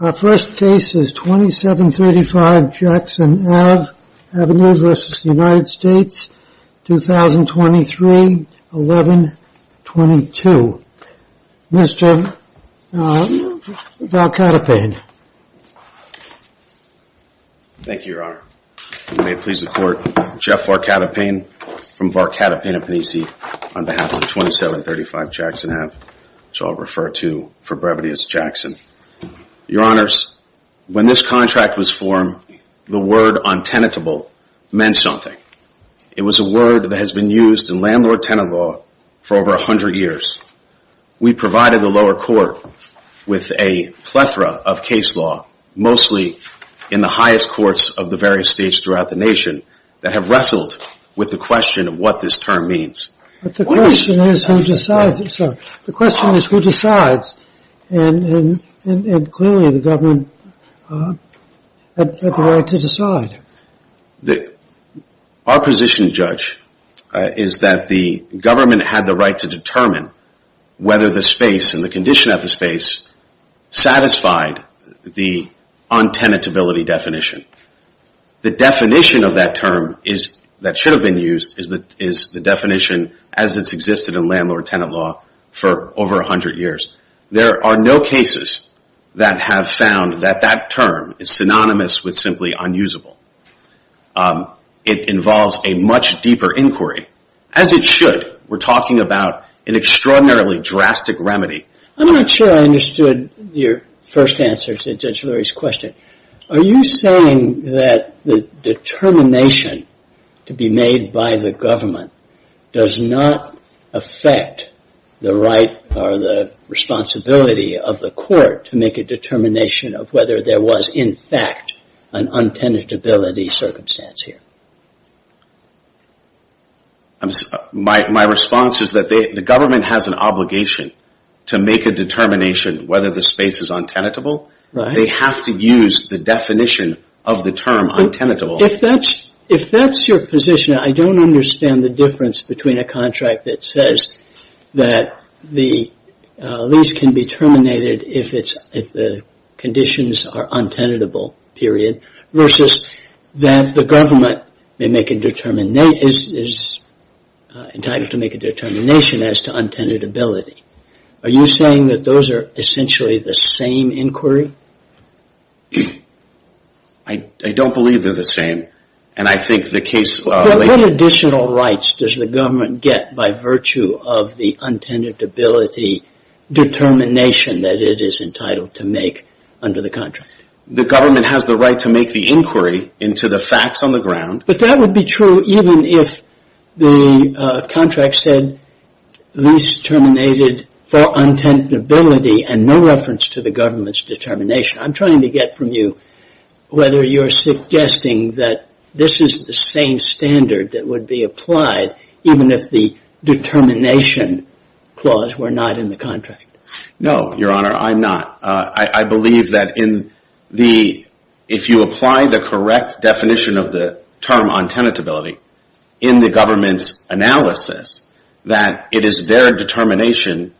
Our first case is 27-35 Jackson Ave v. United States, 2023-11-22. Mr. Varkatopane. Thank you, Your Honor. May it please the Court, I'm Jeff Varkatopane from Varkatopane, Appanese County on behalf of 27-35 Jackson Ave, which I'll refer to for brevity as Jackson. Your Honors, when this contract was formed, the word untenatable meant something. It was a word that has been used in landlord-tenant law for over 100 years. We provided the lower court with a plethora of case law, mostly in the highest courts of the various states throughout the nation that have wrestled with the question of what this term means. The question is who decides, and clearly the government had the right to decide. Our position, Judge, is that the government had the right to determine whether the space and the condition of the space satisfied the untenatability definition. The definition of that term that should have been used is the definition as it's existed in landlord-tenant law for over 100 years. There are no cases that have found that that term is synonymous with simply unusable. It involves a much deeper inquiry, as it should. We're talking about an extraordinarily drastic remedy. I'm not sure I understood your first answer to Judge Lurie's question. Are you saying that the determination to be made by the government does not affect the right or the responsibility of the court to make a determination of whether there was, in fact, an untenatability circumstance here? My response is that the government has an obligation to make a determination whether the space is untenatable. They have to use the definition of the term untenatable. If that's your position, I don't understand the difference between a contract that says that the lease can be terminated if the conditions are untenatable, period, versus that the government is entitled to make a determination as to untenatability. Are you saying that those are essentially the same inquiry? I don't believe they're the same. What additional rights does the government get by virtue of the untenatability determination that it is entitled to make under the contract? The government has the right to make the inquiry into the facts on the ground. But that would be true even if the contract said lease terminated for untenatability and no reference to the government's determination. I'm trying to get from you whether you're suggesting that this is the same standard that would be applied even if the determination clause were not in the contract. No, Your Honor, I'm not. I believe that if you apply the correct definition of the term untenatability in the government's analysis, that it is their determination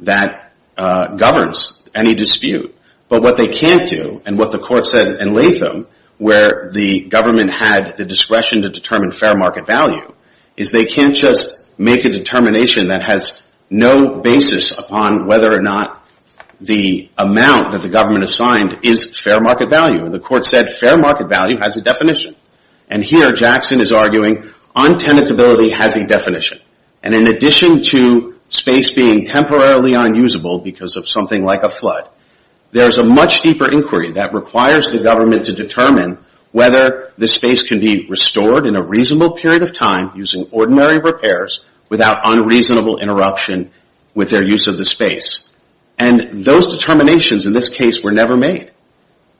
that governs any dispute. But what they can't do, and what the court said in Latham, where the government had the discretion to determine fair market value, is they can't just make a determination that has no basis upon whether or not the amount that the government assigned is fair market value. And the court said fair market value has a definition. And here Jackson is arguing untenatability has a definition. And in addition to space being temporarily unusable because of something like a flood, there's a much deeper inquiry that requires the government to determine whether the space can be restored in a reasonable period of time using ordinary repairs without unreasonable interruption with their use of the space. And those determinations in this case were never made.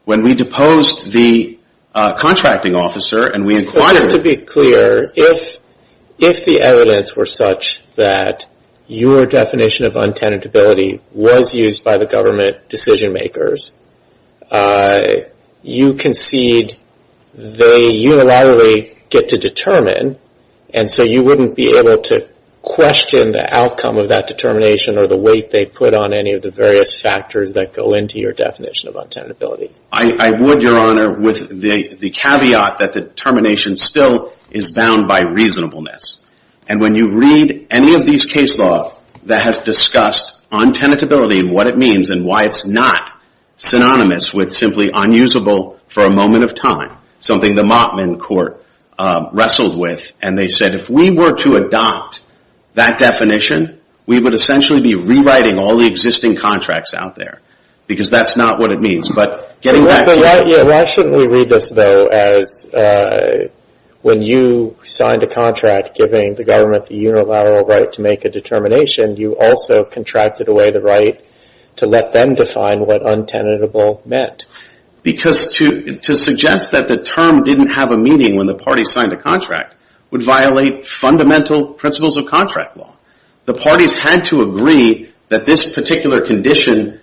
When we deposed the contracting officer and we inquired... Just to be clear, if the evidence were such that your definition of untenatability was used by the government decision makers, you concede they unilaterally get to determine what the space is in. And so you wouldn't be able to question the outcome of that determination or the weight they put on any of the various factors that go into your definition of untenatability. I would, Your Honor, with the caveat that the determination still is bound by reasonableness. And when you read any of these case law that have discussed untenatability and what it means and why it's not synonymous with simply unusable for a moment of time, something the Allotment Court wrestled with and they said, if we were to adopt that definition, we would essentially be rewriting all the existing contracts out there. Because that's not what it means. But getting back to your point... So why shouldn't we read this, though, as when you signed a contract giving the government the unilateral right to make a determination, you also contracted away the right to let them define what untenatable meant? Because to suggest that the term didn't have a meaning when the party signed a contract would violate fundamental principles of contract law. The parties had to agree that this particular condition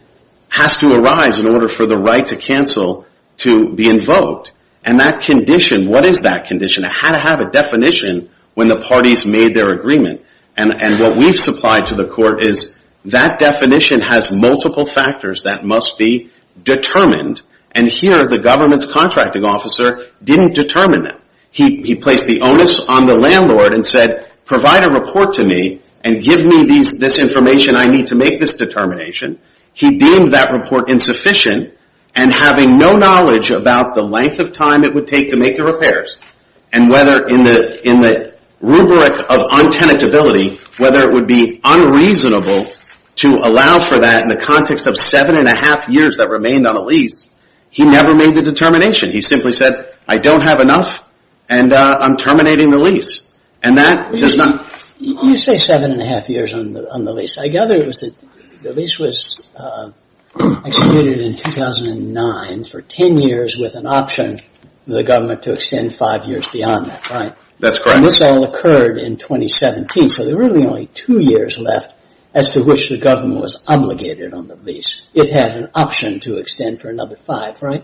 has to arise in order for the right to cancel to be invoked. And that condition, what is that condition? It had to have a definition when the parties made their agreement. And what we've supplied to the court is that definition has multiple factors that must be determined and here the government's contracting officer didn't determine them. He placed the onus on the landlord and said, provide a report to me and give me this information I need to make this determination. He deemed that report insufficient and having no knowledge about the length of time it would take to make the repairs and whether in the rubric of untenatability, whether it would be unreasonable to allow for that in the context of seven and a half years that remained on the lease, he never made the determination. He simply said, I don't have enough and I'm terminating the lease. And that does not... You say seven and a half years on the lease. I gather the lease was executed in 2009 for ten years with an option for the government to extend five years beyond that, right? That's correct. And this all occurred in 2017, so there were really only two years left as to which the government was obligated on the lease. It had an option to extend for another five, right?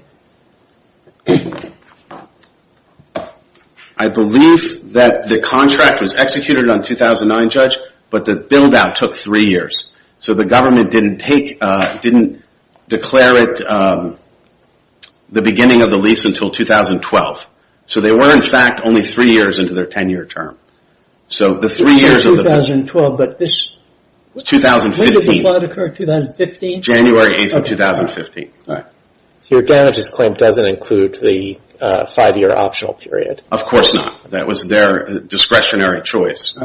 I believe that the contract was executed on 2009, Judge, but the build-out took three years. So the government didn't take, didn't declare it the beginning of the lease until 2012. So they were in fact only three years into their ten-year term. So the three years of the... It wasn't 2012, but this... 2015. When did the plot occur? 2015? January 8th of 2015. So your damages claim doesn't include the five-year optional period? Of course not. That was their discretionary choice.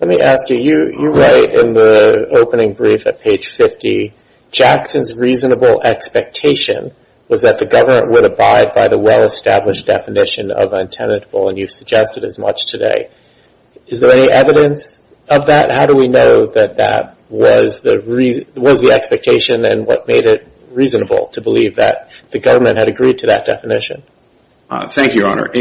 Let me ask you, you write in the opening brief at page 50, Jackson's reasonable expectation was that the government would abide by the well-established definition of untenatable and you've suggested as much today. Is there any evidence of that? How do we know that that was the expectation and what made it reasonable to believe that the government had agreed to that definition? Thank you, Your Honor.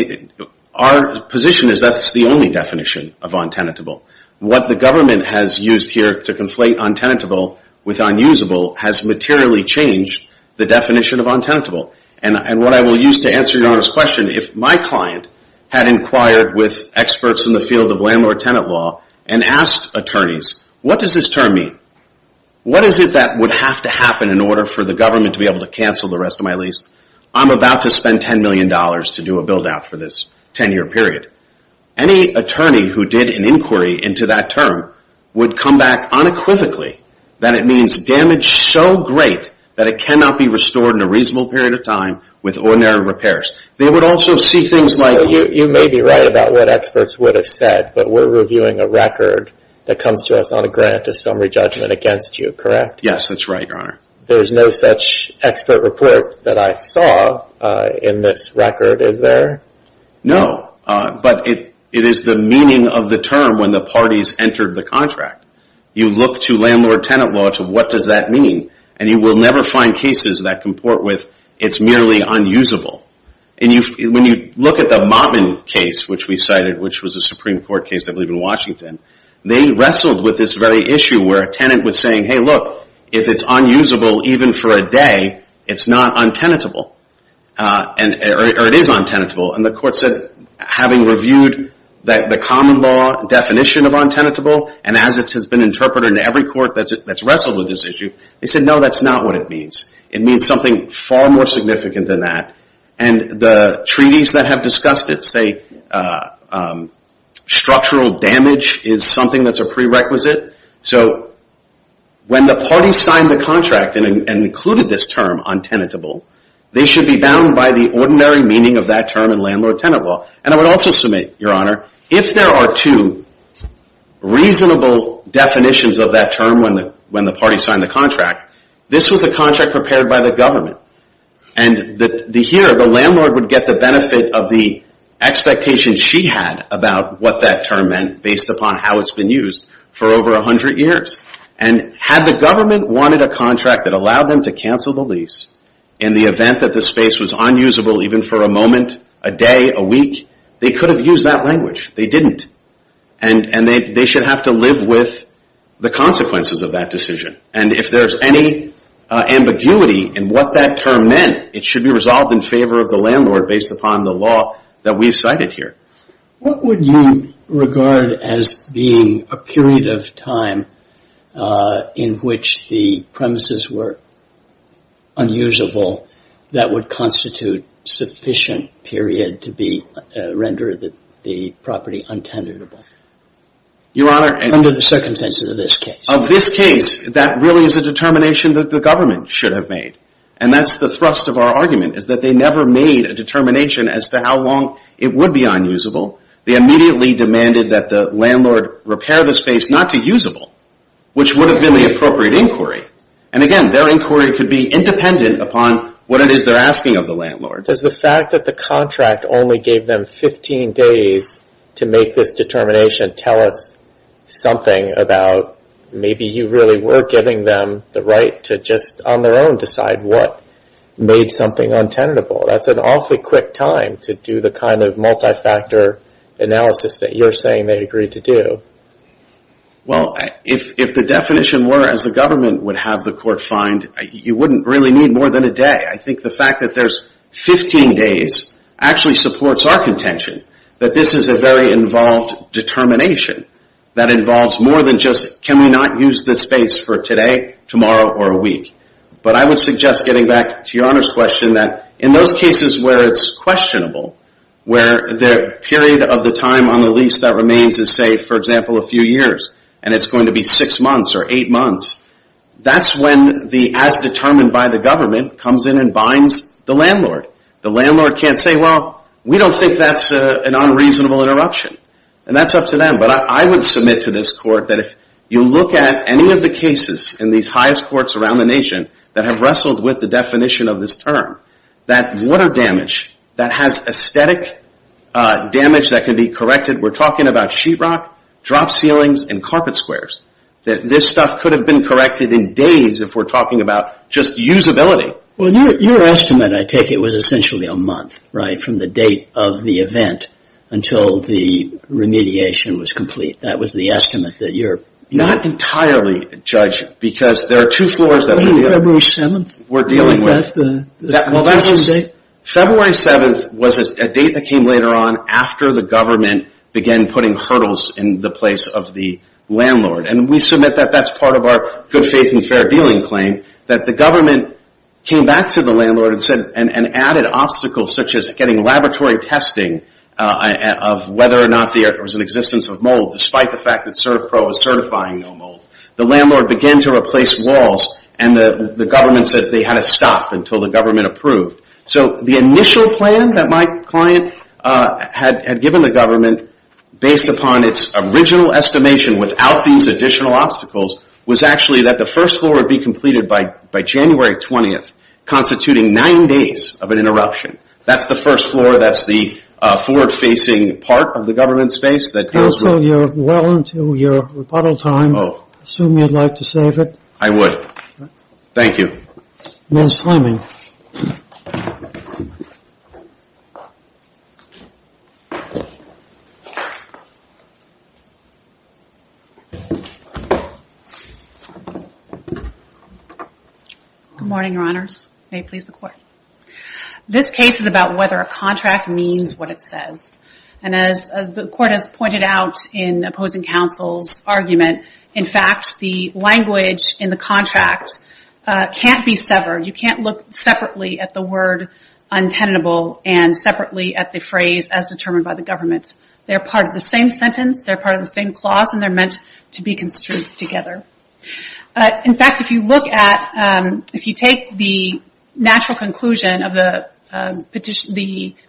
Our position is that's the only definition of untenatable. What the government has used here to conflate untenatable with unusable has materially changed the definition of untenatable. And what I will use to answer Your Honor's question, if my client had inquired with experts in the field of landlord-tenant law and asked attorneys, what does this term mean? What is it that would have to happen in order for the government to be able to cancel the rest of my lease? I'm about to spend $10 million to do a build-out for this ten-year period. Any attorney who did an inquiry into that term would come back unequivocally that it means damage so great that it cannot be restored in a reasonable period of time with ordinary repairs. They would also see things like... You may be right about what experts would have said, but we're reviewing a record that comes to us on a grant of summary judgment against you, correct? Yes, that's right, Your Honor. There's no such expert report that I saw in this record, is there? No, but it is the meaning of the term when the parties entered the contract. You look to landlord-tenant law to what does that mean, and you will never find cases that comport with it's merely unusable. When you look at the Mottman case, which we cited, which was a Supreme Court case, I believe, in Washington, they wrestled with this very issue where a tenant was saying, hey, look, if it's unusable even for a day, it's not untenatable, or it is untenatable. The court said, having reviewed the common law definition of untenatable, and as it has been interpreted in every court that's wrestled with this issue, they said, no, that's not what it means. It means something far more significant than that. And the treaties that have discussed it say structural damage is something that's a prerequisite. So when the parties signed the contract and included this term untenatable, they should be bound by the ordinary meaning of that term in landlord-tenant law. And I would also submit, Your Honor, if there are two reasonable definitions of that term when the parties signed the contract, this was a contract prepared by the government. And the landlord would get the benefit of the expectation she had about what that term meant based upon how it's been used for over 100 years. And had the government wanted a contract that allowed them to cancel the lease in the event that the space was unusable even for a moment, a day, a week, they could have used that language. They didn't. And they should have to live with the consequences of that decision. And if there's any ambiguity in what that term meant, it should be resolved in favor of the landlord based upon the law that we've cited here. What would you regard as being a period of time in which the premises were unusable that would constitute sufficient period to be rendered the property untenatable? Your Honor. Under the circumstances of this case. Of this case, that really is a determination that the government should have made. And that's the thrust of our argument, is that they never made a determination as to how long it would be unusable. They immediately demanded that the landlord repair the space not to usable, which would have been the appropriate inquiry. And again, their inquiry could be independent upon what it is they're asking of the landlord. Does the fact that the contract only gave them 15 days to make this determination tell us something about maybe you really were giving them the right to just on their own decide what made something untenable? That's an awfully quick time to do the kind of multi-factor analysis that you're saying they agreed to do. Well, if the definition were as the government would have the court find, you wouldn't really need more than a day. I think the fact that there's 15 days actually supports our contention that this is a very involved determination that involves more than just can we not use this space for today, tomorrow, or a week. But I would suggest getting back to Your Honor's question that in those cases where it's questionable, where the period of the time on the lease that remains is say, for example, a few years and it's going to be six months or eight months, that's when the as determined by the government comes in and binds the landlord. The landlord can't say, well, we don't think that's an unreasonable interruption. And that's up to them. But I would submit to this court that if you look at any of the cases in these highest courts around the nation that have wrestled with the definition of this term, that water damage that has aesthetic damage that can be corrected, we're talking about sheet rock, drop ceilings, and carpet squares, that this stuff could have been corrected in days if we're talking about just usability. Well, your estimate, I take it, was essentially a month, right, from the date of the event until the remediation was complete. That was the estimate that you're... Not entirely, Judge, because there are two floors that we're dealing with. February 7th? February 7th was a date that came later on after the government began putting hurdles in the place of the landlord. And we submit that that's part of our good faith and fair dealing claim, that the government came back to the landlord and said, and added obstacles such as getting laboratory testing of whether or not there was an existence of mold, despite the fact that CertPro is certifying no mold. The landlord began to replace walls and the city had to stop until the government approved. So the initial plan that my client had given the government, based upon its original estimation without these additional obstacles, was actually that the first floor would be completed by January 20th, constituting nine days of an interruption. That's the first floor. That's the forward-facing part of the government space that... Counsel, you're well into your rebuttal time. I assume you'd like to save it? I would. Thank you. Ms. Fleming. Good morning, Your Honors. May it please the Court. This case is about whether a contract means what it says. And as the Court has pointed out in opposing counsel's argument, in fact, the language in the contract can't be severed. You can't look separately at the word untenable and separately at the phrase, as determined by the government. They're part of the same sentence, they're part of the same clause, and they're meant to be construed together. In fact, if you look at... If you take the natural conclusion of the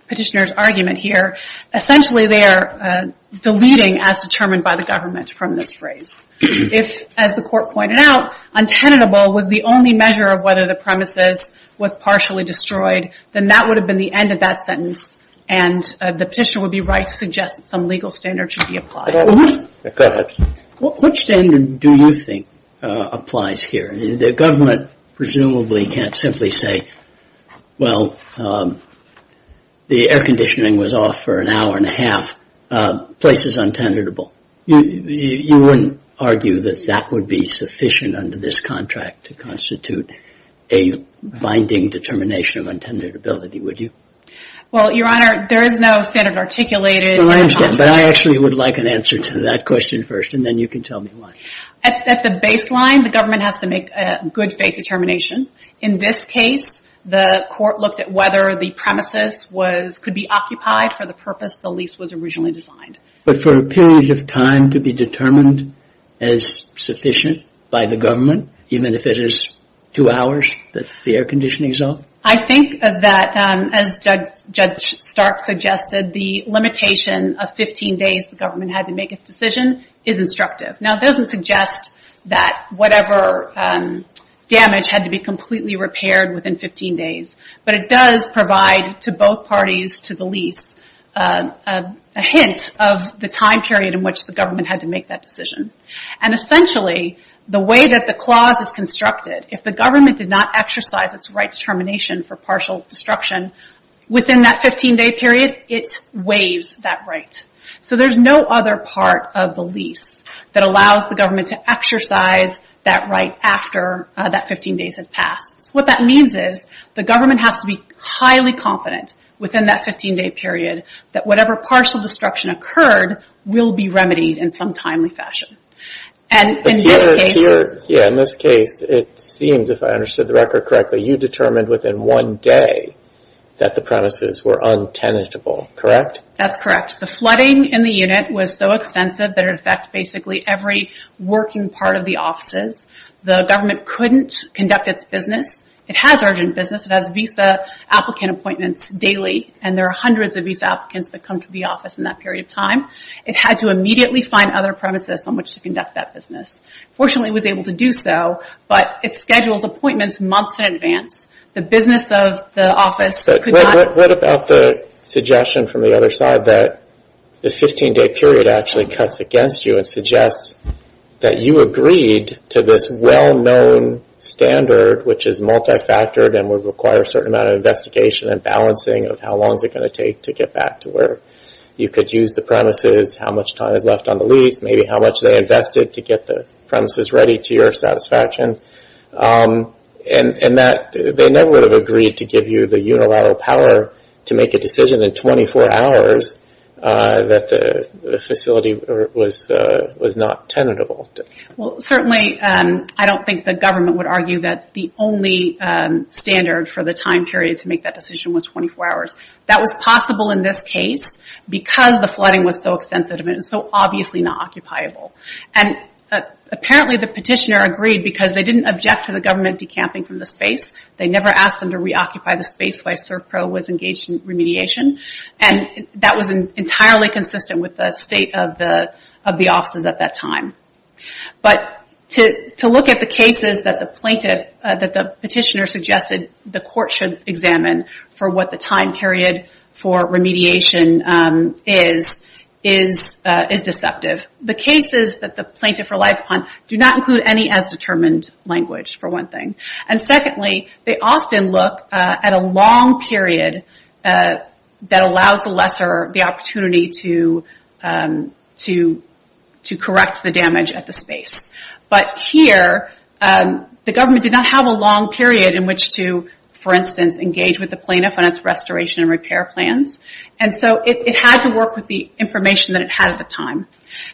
petitioner's argument here, essentially they are deleting, as determined by the government, from this phrase. If, as the Court pointed out, untenable was the only measure of whether the premises was partially destroyed, then that would have been the end of that sentence, and the petitioner would be right to suggest that some legal standard should be applied. Go ahead. Which standard do you think applies here? The government presumably can't simply say, Well, the air conditioning was off for an hour and a half. Place is untenable. You wouldn't argue that that would be sufficient under this contract to constitute a binding determination of untenability, would you? Well, Your Honor, there is no standard articulated in the contract. But I actually would like an answer to that question first, and then you can tell me why. At the baseline, the government has to make a good faith determination. In this case, the Court looked at whether the premises could be occupied for the purpose the lease was originally designed. But for a period of time to be determined as sufficient by the government, even if it is two hours that the air conditioning is off? I think that, as Judge Stark suggested, the limitation of 15 days the government had to make this decision is instructive. Now, it doesn't suggest that whatever damage had to be completely repaired within 15 days, but it does provide to both parties to the lease a hint of the time period in which the government had to make that decision. Essentially, the way that the clause is constructed, if the government did not exercise its right to termination for partial destruction within that 15 day period, it waives that right. So there's no other part of the lease that allows the government to exercise that right after that 15 days had passed. What that means is the government has to be highly confident within that 15 day period that whatever partial destruction occurred will be remedied in some timely fashion. In this case... In this case, it seemed, if I understood the record correctly, you determined within one day that the premises were untenable, correct? That's correct. The flooding in the unit was so extensive that it affected basically every working part of the offices. The government couldn't conduct its business. It has urgent business. It has visa applicant appointments daily, and there are hundreds of visa applicants that come to the office in that period of time. It had to immediately find other premises on which to conduct that business. Fortunately, it was able to do so, but it schedules appointments months in advance. The business of the office could not... What about the suggestion from the other side that the 15 day period actually cuts against you and suggests that you agreed to this well-known standard, which is multi-factored and would require a certain amount of investigation and balancing of how long is it going to take to get back to where you could use the premises, how much time is left on the lease, maybe how much they invested to get the premises ready to your satisfaction, and that they never would have agreed to give you the unilateral power to make a decision in 24 hours that the facility was not tenable? Certainly, I don't think the government would argue that the only standard for the time period to make that decision was 24 hours. That was possible in this case because the flooding was so extensive and so obviously not occupiable. Apparently, the petitioner agreed because they didn't object to the government decamping from the space. They never asked them to reoccupy the space while SERPRO was engaged in remediation. That was entirely consistent with the state of the offices at that time. To look at the cases that the petitioner suggested the court should examine for what the time period for remediation is, is deceptive. The cases that the plaintiff relies upon do not include any as determined language for one thing. Secondly, they often look at a long period that allows the lesser the opportunity to correct the damage at the space. But here, the government did not have a long period in which to, for instance, engage with the plaintiff on its restoration and repair plans. It had to work with the information that it had at the time.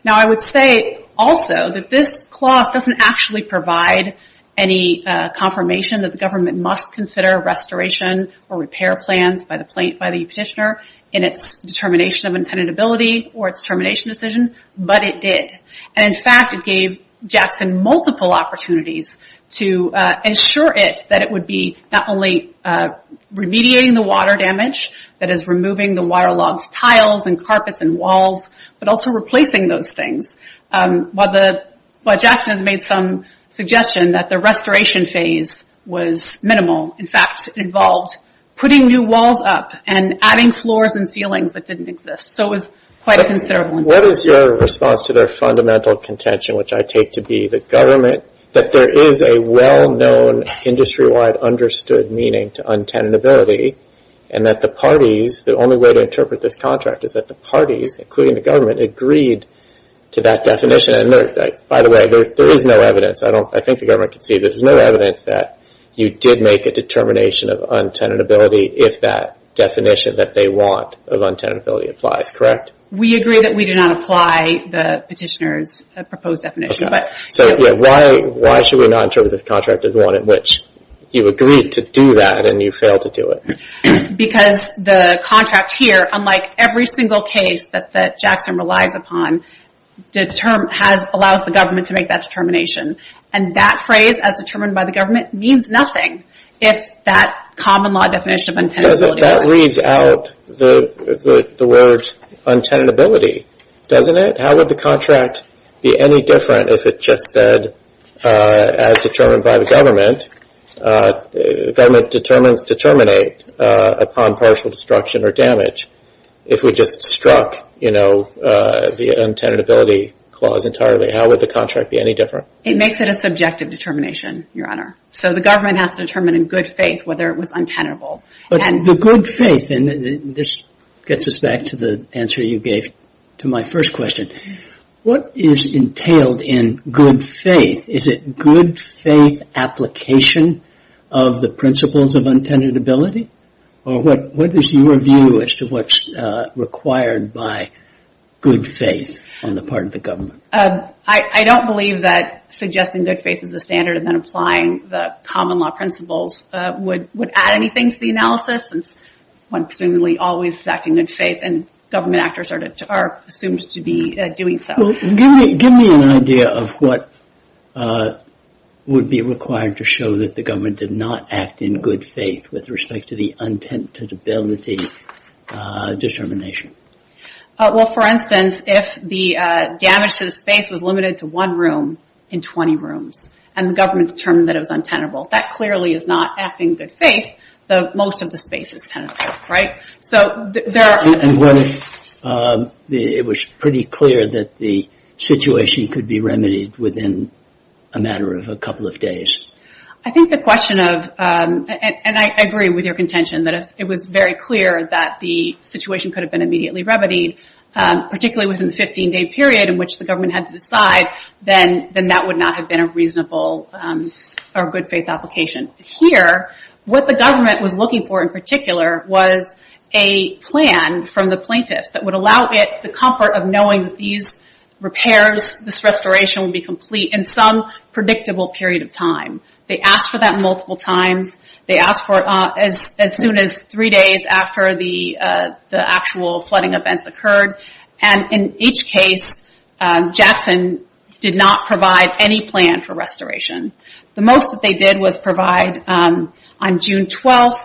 I would say also that this clause doesn't actually provide any confirmation that the government must consider restoration or repair plans by the petitioner in its determination of intendability or its termination decision, but it did. In fact, it gave Jackson multiple opportunities to ensure it that it would be not only remediating the water damage, that is removing the wire logs, tiles, and carpets, and walls, but also replacing those things, while Jackson made some suggestion that the restoration phase was minimal. In fact, it involved putting new walls up and adding floors and ceilings that didn't exist. So it was quite a considerable investment. What is your response to their fundamental contention, which I take to be the government, that there is a well-known industry-wide understood meaning to intendability, and that the parties, the only way to interpret this contract is that the parties, including the government, agreed to that definition? By the way, there is no evidence. I think the government can see that there is no evidence that you did make a determination of intendability if that definition that they want of intendability applies, correct? We agree that we do not apply the petitioner's proposed definition. So why should we not interpret this contract as one in which you agreed to do that and you failed to do it? Because the contract here, unlike every single case that Jackson relies upon, allows the government to make that determination. And that phrase, as determined by the government, means nothing if that common law definition of intendability doesn't apply. Because that reads out the word intendability, doesn't it? How would the contract be any different if it just said, as determined by the government, the government determines to terminate upon partial destruction or damage, if we just struck, you know, the intendability clause entirely? How would the contract be any different? It makes it a subjective determination, Your Honor. So the government has to determine in good faith whether it was intendable. But the good faith, and this gets us back to the answer you gave to my first question. What is entailed in good faith? Is it good faith application of the principles of intendability? Or what is your view as to what's required by good faith on the part of the government? I don't believe that suggesting good faith is the standard and then applying the common law principles would add anything to the analysis, since one presumably always is acting in good faith and government actors are assumed to be doing so. Well, give me an idea of what would be required to show that the government did not act in good faith with respect to the intendability determination. Well, for instance, if the damage to the space was limited to one room in 20 rooms and the government determined that it was untenable, that clearly is not acting in good faith, though most of the space is tenable, right? And was it pretty clear that the situation could be remedied within a matter of a couple of days? I think the question of, and I agree with your contention, that if it was very clear that the situation could have been immediately remedied, particularly within the 15-day period in which the government had to decide, then that would not have been a reasonable or good faith application. Here, what the government was looking for in particular was a plan from the plaintiffs that would allow it the comfort of knowing that these repairs, this restoration would be complete in some predictable period of time. They asked for that multiple times. They asked for it as soon as three days after the actual flooding events occurred. And in each case, Jackson did not provide any plan for restoration. The most that they did was provide, on June 12th,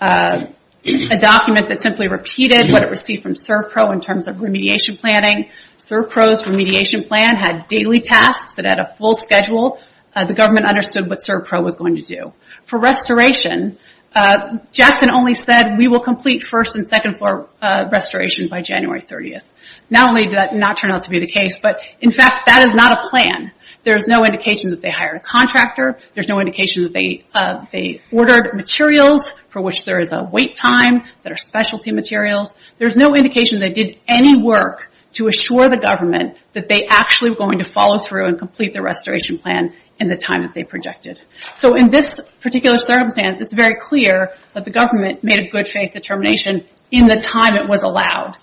a document that simply repeated what it received from CERPRO in terms of remediation planning. CERPRO's remediation plan had daily tasks that had a full schedule. The government understood what CERPRO was going to do. For restoration, Jackson only said, we will complete first and second floor restoration by January 30th. Not only did that not turn out to be the case, but in fact, that is not a plan. There's no indication that they hired a contractor. There's no indication that they ordered materials for which there is a wait time that are specialty materials. There's no indication they did any work to assure the government that they actually were going to follow through and complete the restoration plan in the time that they projected. In this particular circumstance, it's very clear that the government made a good faith determination in the time it was allowed.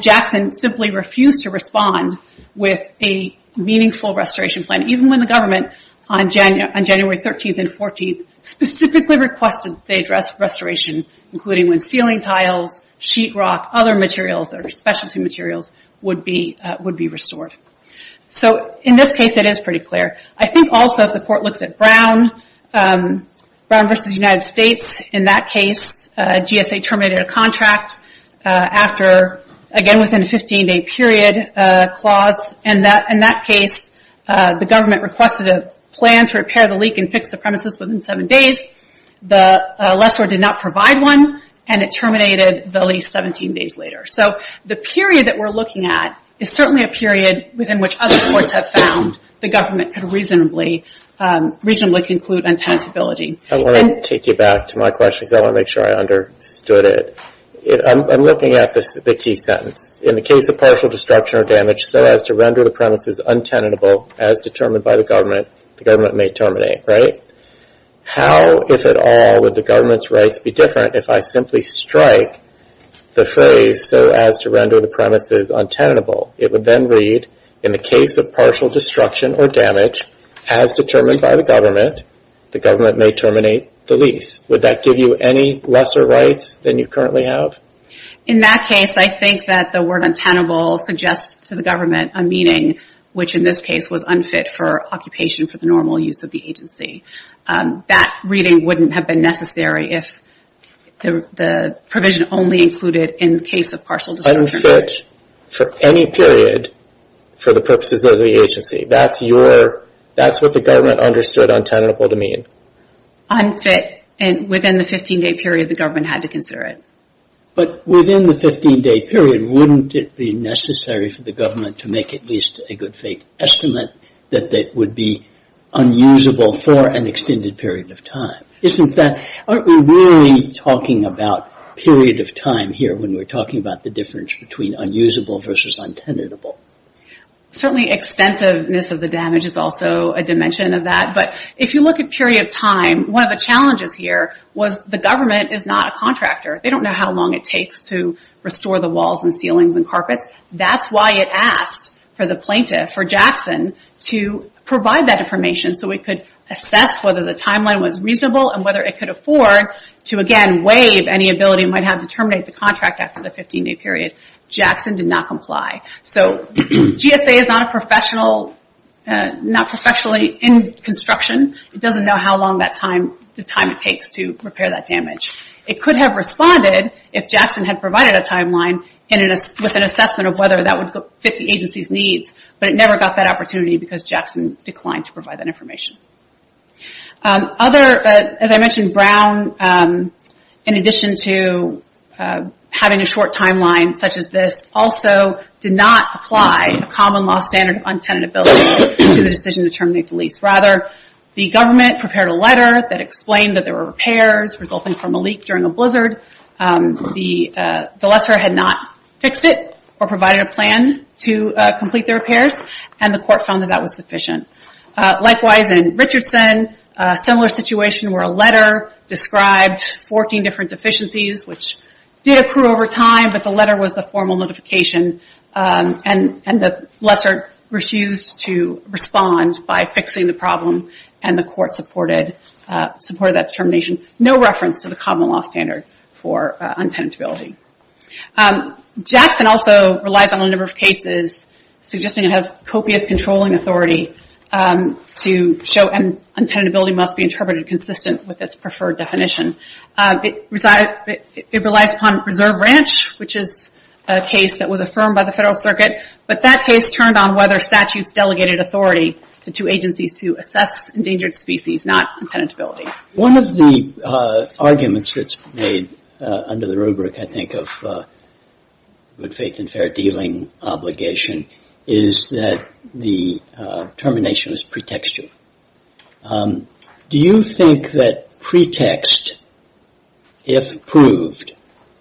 Jackson simply refused to respond with a meaningful restoration plan, even when the government, on January 13th and 14th, specifically requested they address restoration, including when ceiling tiles, sheetrock, other materials that are specialty materials would be restored. In this case, it is pretty clear. I think also, if the court looks at Brown versus United States, in that case, GSA terminated a contract after, again, within a 15-day period clause. In that case, the government requested a plan to repair the leak and fix the premises within seven days. The lessor did not provide one, and it terminated the leak 17 days later. The period that we're looking at is certainly a period within which other courts have found the government could reasonably conclude on tenantability. I want to take you back to my question, because I want to make sure I understood it. I'm looking at the key sentence. In the case of partial destruction or damage, so as to render the premises untenable as determined by the government, the government may terminate, right? How, if at all, would the government's rights be different if I simply strike the phrase, so as to render the premises untenable? It would then read, in the case of partial destruction or damage, as determined by the government, the government may terminate the lease. Would that give you any lesser rights than you currently have? In that case, I think that the word untenable suggests to the government a meaning which, in this case, was unfit for occupation for the normal use of the agency. That reading wouldn't have been necessary if the provision only included in the case of partial destruction or damage. Unfit for any period for the purposes of the agency. That's what the government understood untenable to mean. Unfit, and within the 15-day period, the government had to consider it. But within the 15-day period, wouldn't it be necessary for the government to make at least a good faith estimate that it would be unusable for an extended period of time? Isn't that, aren't we really talking about period of time here when we're talking about the difference between unusable versus untenable? Certainly, extensiveness of the damage is also a dimension of that. But if you look at period of time, one of the challenges here was the government is not a contractor. They don't know how long it takes to restore the walls and ceilings and carpets. That's why it asked for the plaintiff, for Jackson, to provide that information so we could assess whether the timeline was reasonable and whether it could afford to, again, waive any ability it might have to terminate the contract after the 15-day period. Jackson did not comply. GSA is not a professional, not professionally in construction, it doesn't know how long that time, the time it takes to repair that damage. It could have responded if Jackson had provided a timeline with an assessment of whether that would fit the agency's needs, but it never got that opportunity because Jackson declined to provide that information. As I mentioned, Brown, in addition to having a short timeline such as this, also did not apply a common law standard of untenant ability to the decision to terminate the lease. Rather, the government prepared a letter that explained that there were repairs resulting from a leak during a blizzard. The lessor had not fixed it or provided a plan to complete the repairs and the court found that that was sufficient. Likewise in Richardson, a similar situation where a letter described 14 different deficiencies which did accrue over time, but the letter was the formal notification and the lessor refused to respond by fixing the problem and the court supported that termination. No reference to the common law standard for untenant ability. Jackson also relies on a number of cases suggesting it has copious controlling authority to show when untenant ability must be interpreted consistent with its preferred definition. It relies upon reserve ranch, which is a case that was affirmed by the Federal Circuit, but that case turned on whether statutes delegated authority to two agencies to assess endangered species, not untenant ability. One of the arguments that's made under the rubric, I think, of good faith and fair dealing obligation is that the termination is pretextual. Do you think that pretext, if proved,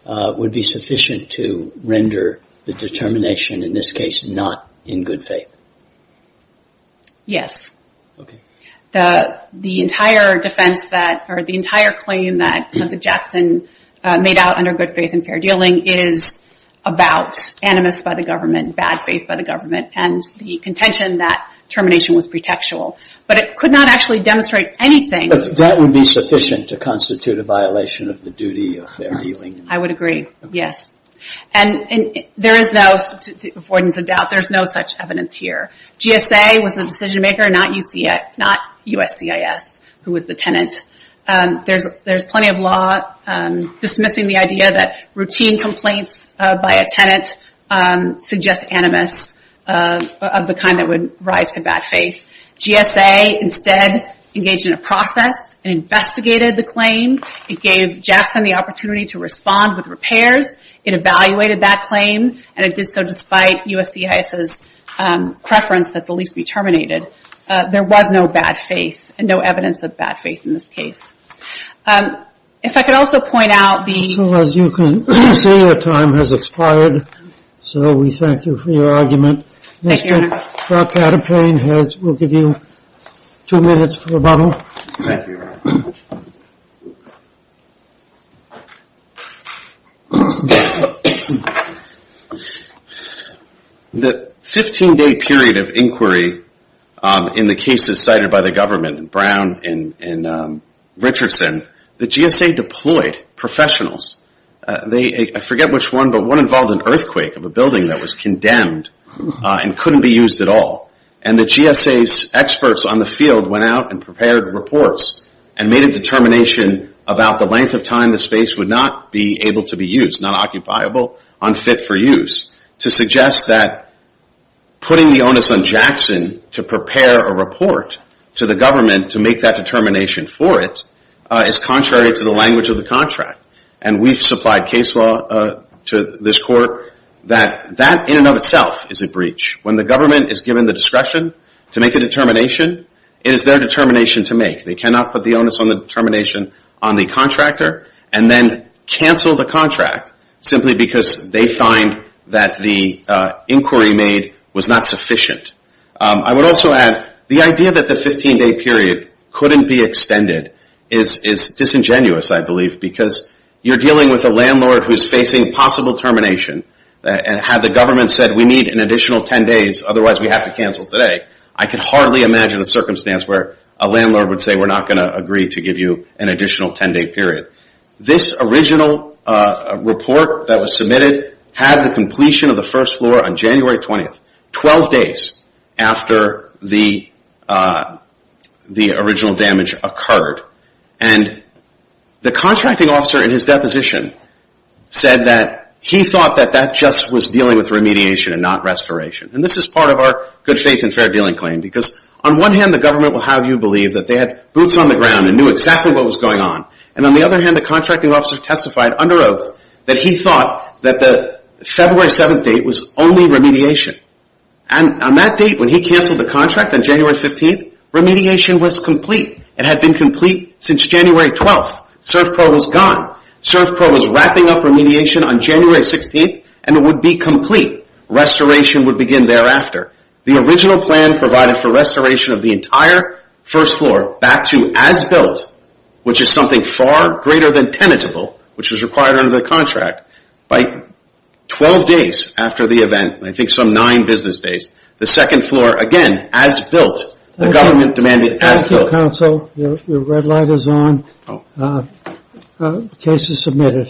would be sufficient to render the determination, in this case, not in good faith? Yes. The entire defense that, or the entire claim that Jackson made out under good faith and fair dealing is about animus by the government, bad faith by the government, and the contention that termination was pretextual, but it could not actually demonstrate anything. That would be sufficient to constitute a violation of the duty of fair dealing. I would agree, yes. There is no, avoidance of doubt, there's no such evidence here. GSA was the decision maker, not USCIS, who was the tenant. There's plenty of law dismissing the idea that routine complaints by a tenant suggest animus of the kind that would rise to bad faith. GSA, instead, engaged in a process, investigated the claim, it gave Jackson the opportunity to respond with repairs, it evaluated that claim, and it did so despite USCIS's preference that the lease be terminated. There was no bad faith, and no evidence of bad faith in this case. If I could also point out the- So as you can see, your time has expired, so we thank you for your argument. Thank you, Your Honor. Mr. Patipane will give you two minutes for rebuttal. Thank you, Your Honor. The 15-day period of inquiry in the cases cited by the government, Brown and Richardson, the GSA deployed professionals. I forget which one, but one involved an earthquake of a building that was condemned and couldn't be used at all. And the GSA's experts on the field went out and prepared reports and made a determination about the length of time the space would not be able to be used, not occupiable, unfit for use, to suggest that putting the onus on Jackson to prepare a report to the government to make that determination for it is contrary to the language of the contract. And we've supplied case law to this court that that in and of itself is a breach. When the government is given the discretion to make a determination, it is their determination to make. They cannot put the onus on the determination on the contractor and then cancel the contract simply because they find that the inquiry made was not sufficient. I would also add, the idea that the 15-day period couldn't be extended is disingenuous, I believe, because you're dealing with a landlord who's facing possible termination and had the government said we need an additional 10 days, otherwise we have to cancel today. I can hardly imagine a circumstance where a landlord would say we're not going to agree to give you an additional 10-day period. This original report that was submitted had the completion of the first floor on January 20th, 12 days after the original damage occurred. And the contracting officer in his deposition said that he thought that that just was dealing with remediation and not restoration. And this is part of our good faith and fair dealing claim because on one hand, the government will have you believe that they had boots on the ground and knew exactly what was going on. And on the other hand, the contracting officer testified under oath that he thought that the February 7th date was only remediation. And on that date, when he canceled the contract on January 15th, remediation was complete. It had been complete since January 12th. ServPro was gone. ServPro was wrapping up remediation on January 16th, and it would be complete. Restoration would begin thereafter. The original plan provided for restoration of the entire first floor back to as built, which is something far greater than tenable, which is required under the contract. By 12 days after the event, I think some nine business days, the second floor, again, as built. The government demanded as built. Counsel, your red light is on. The case is submitted.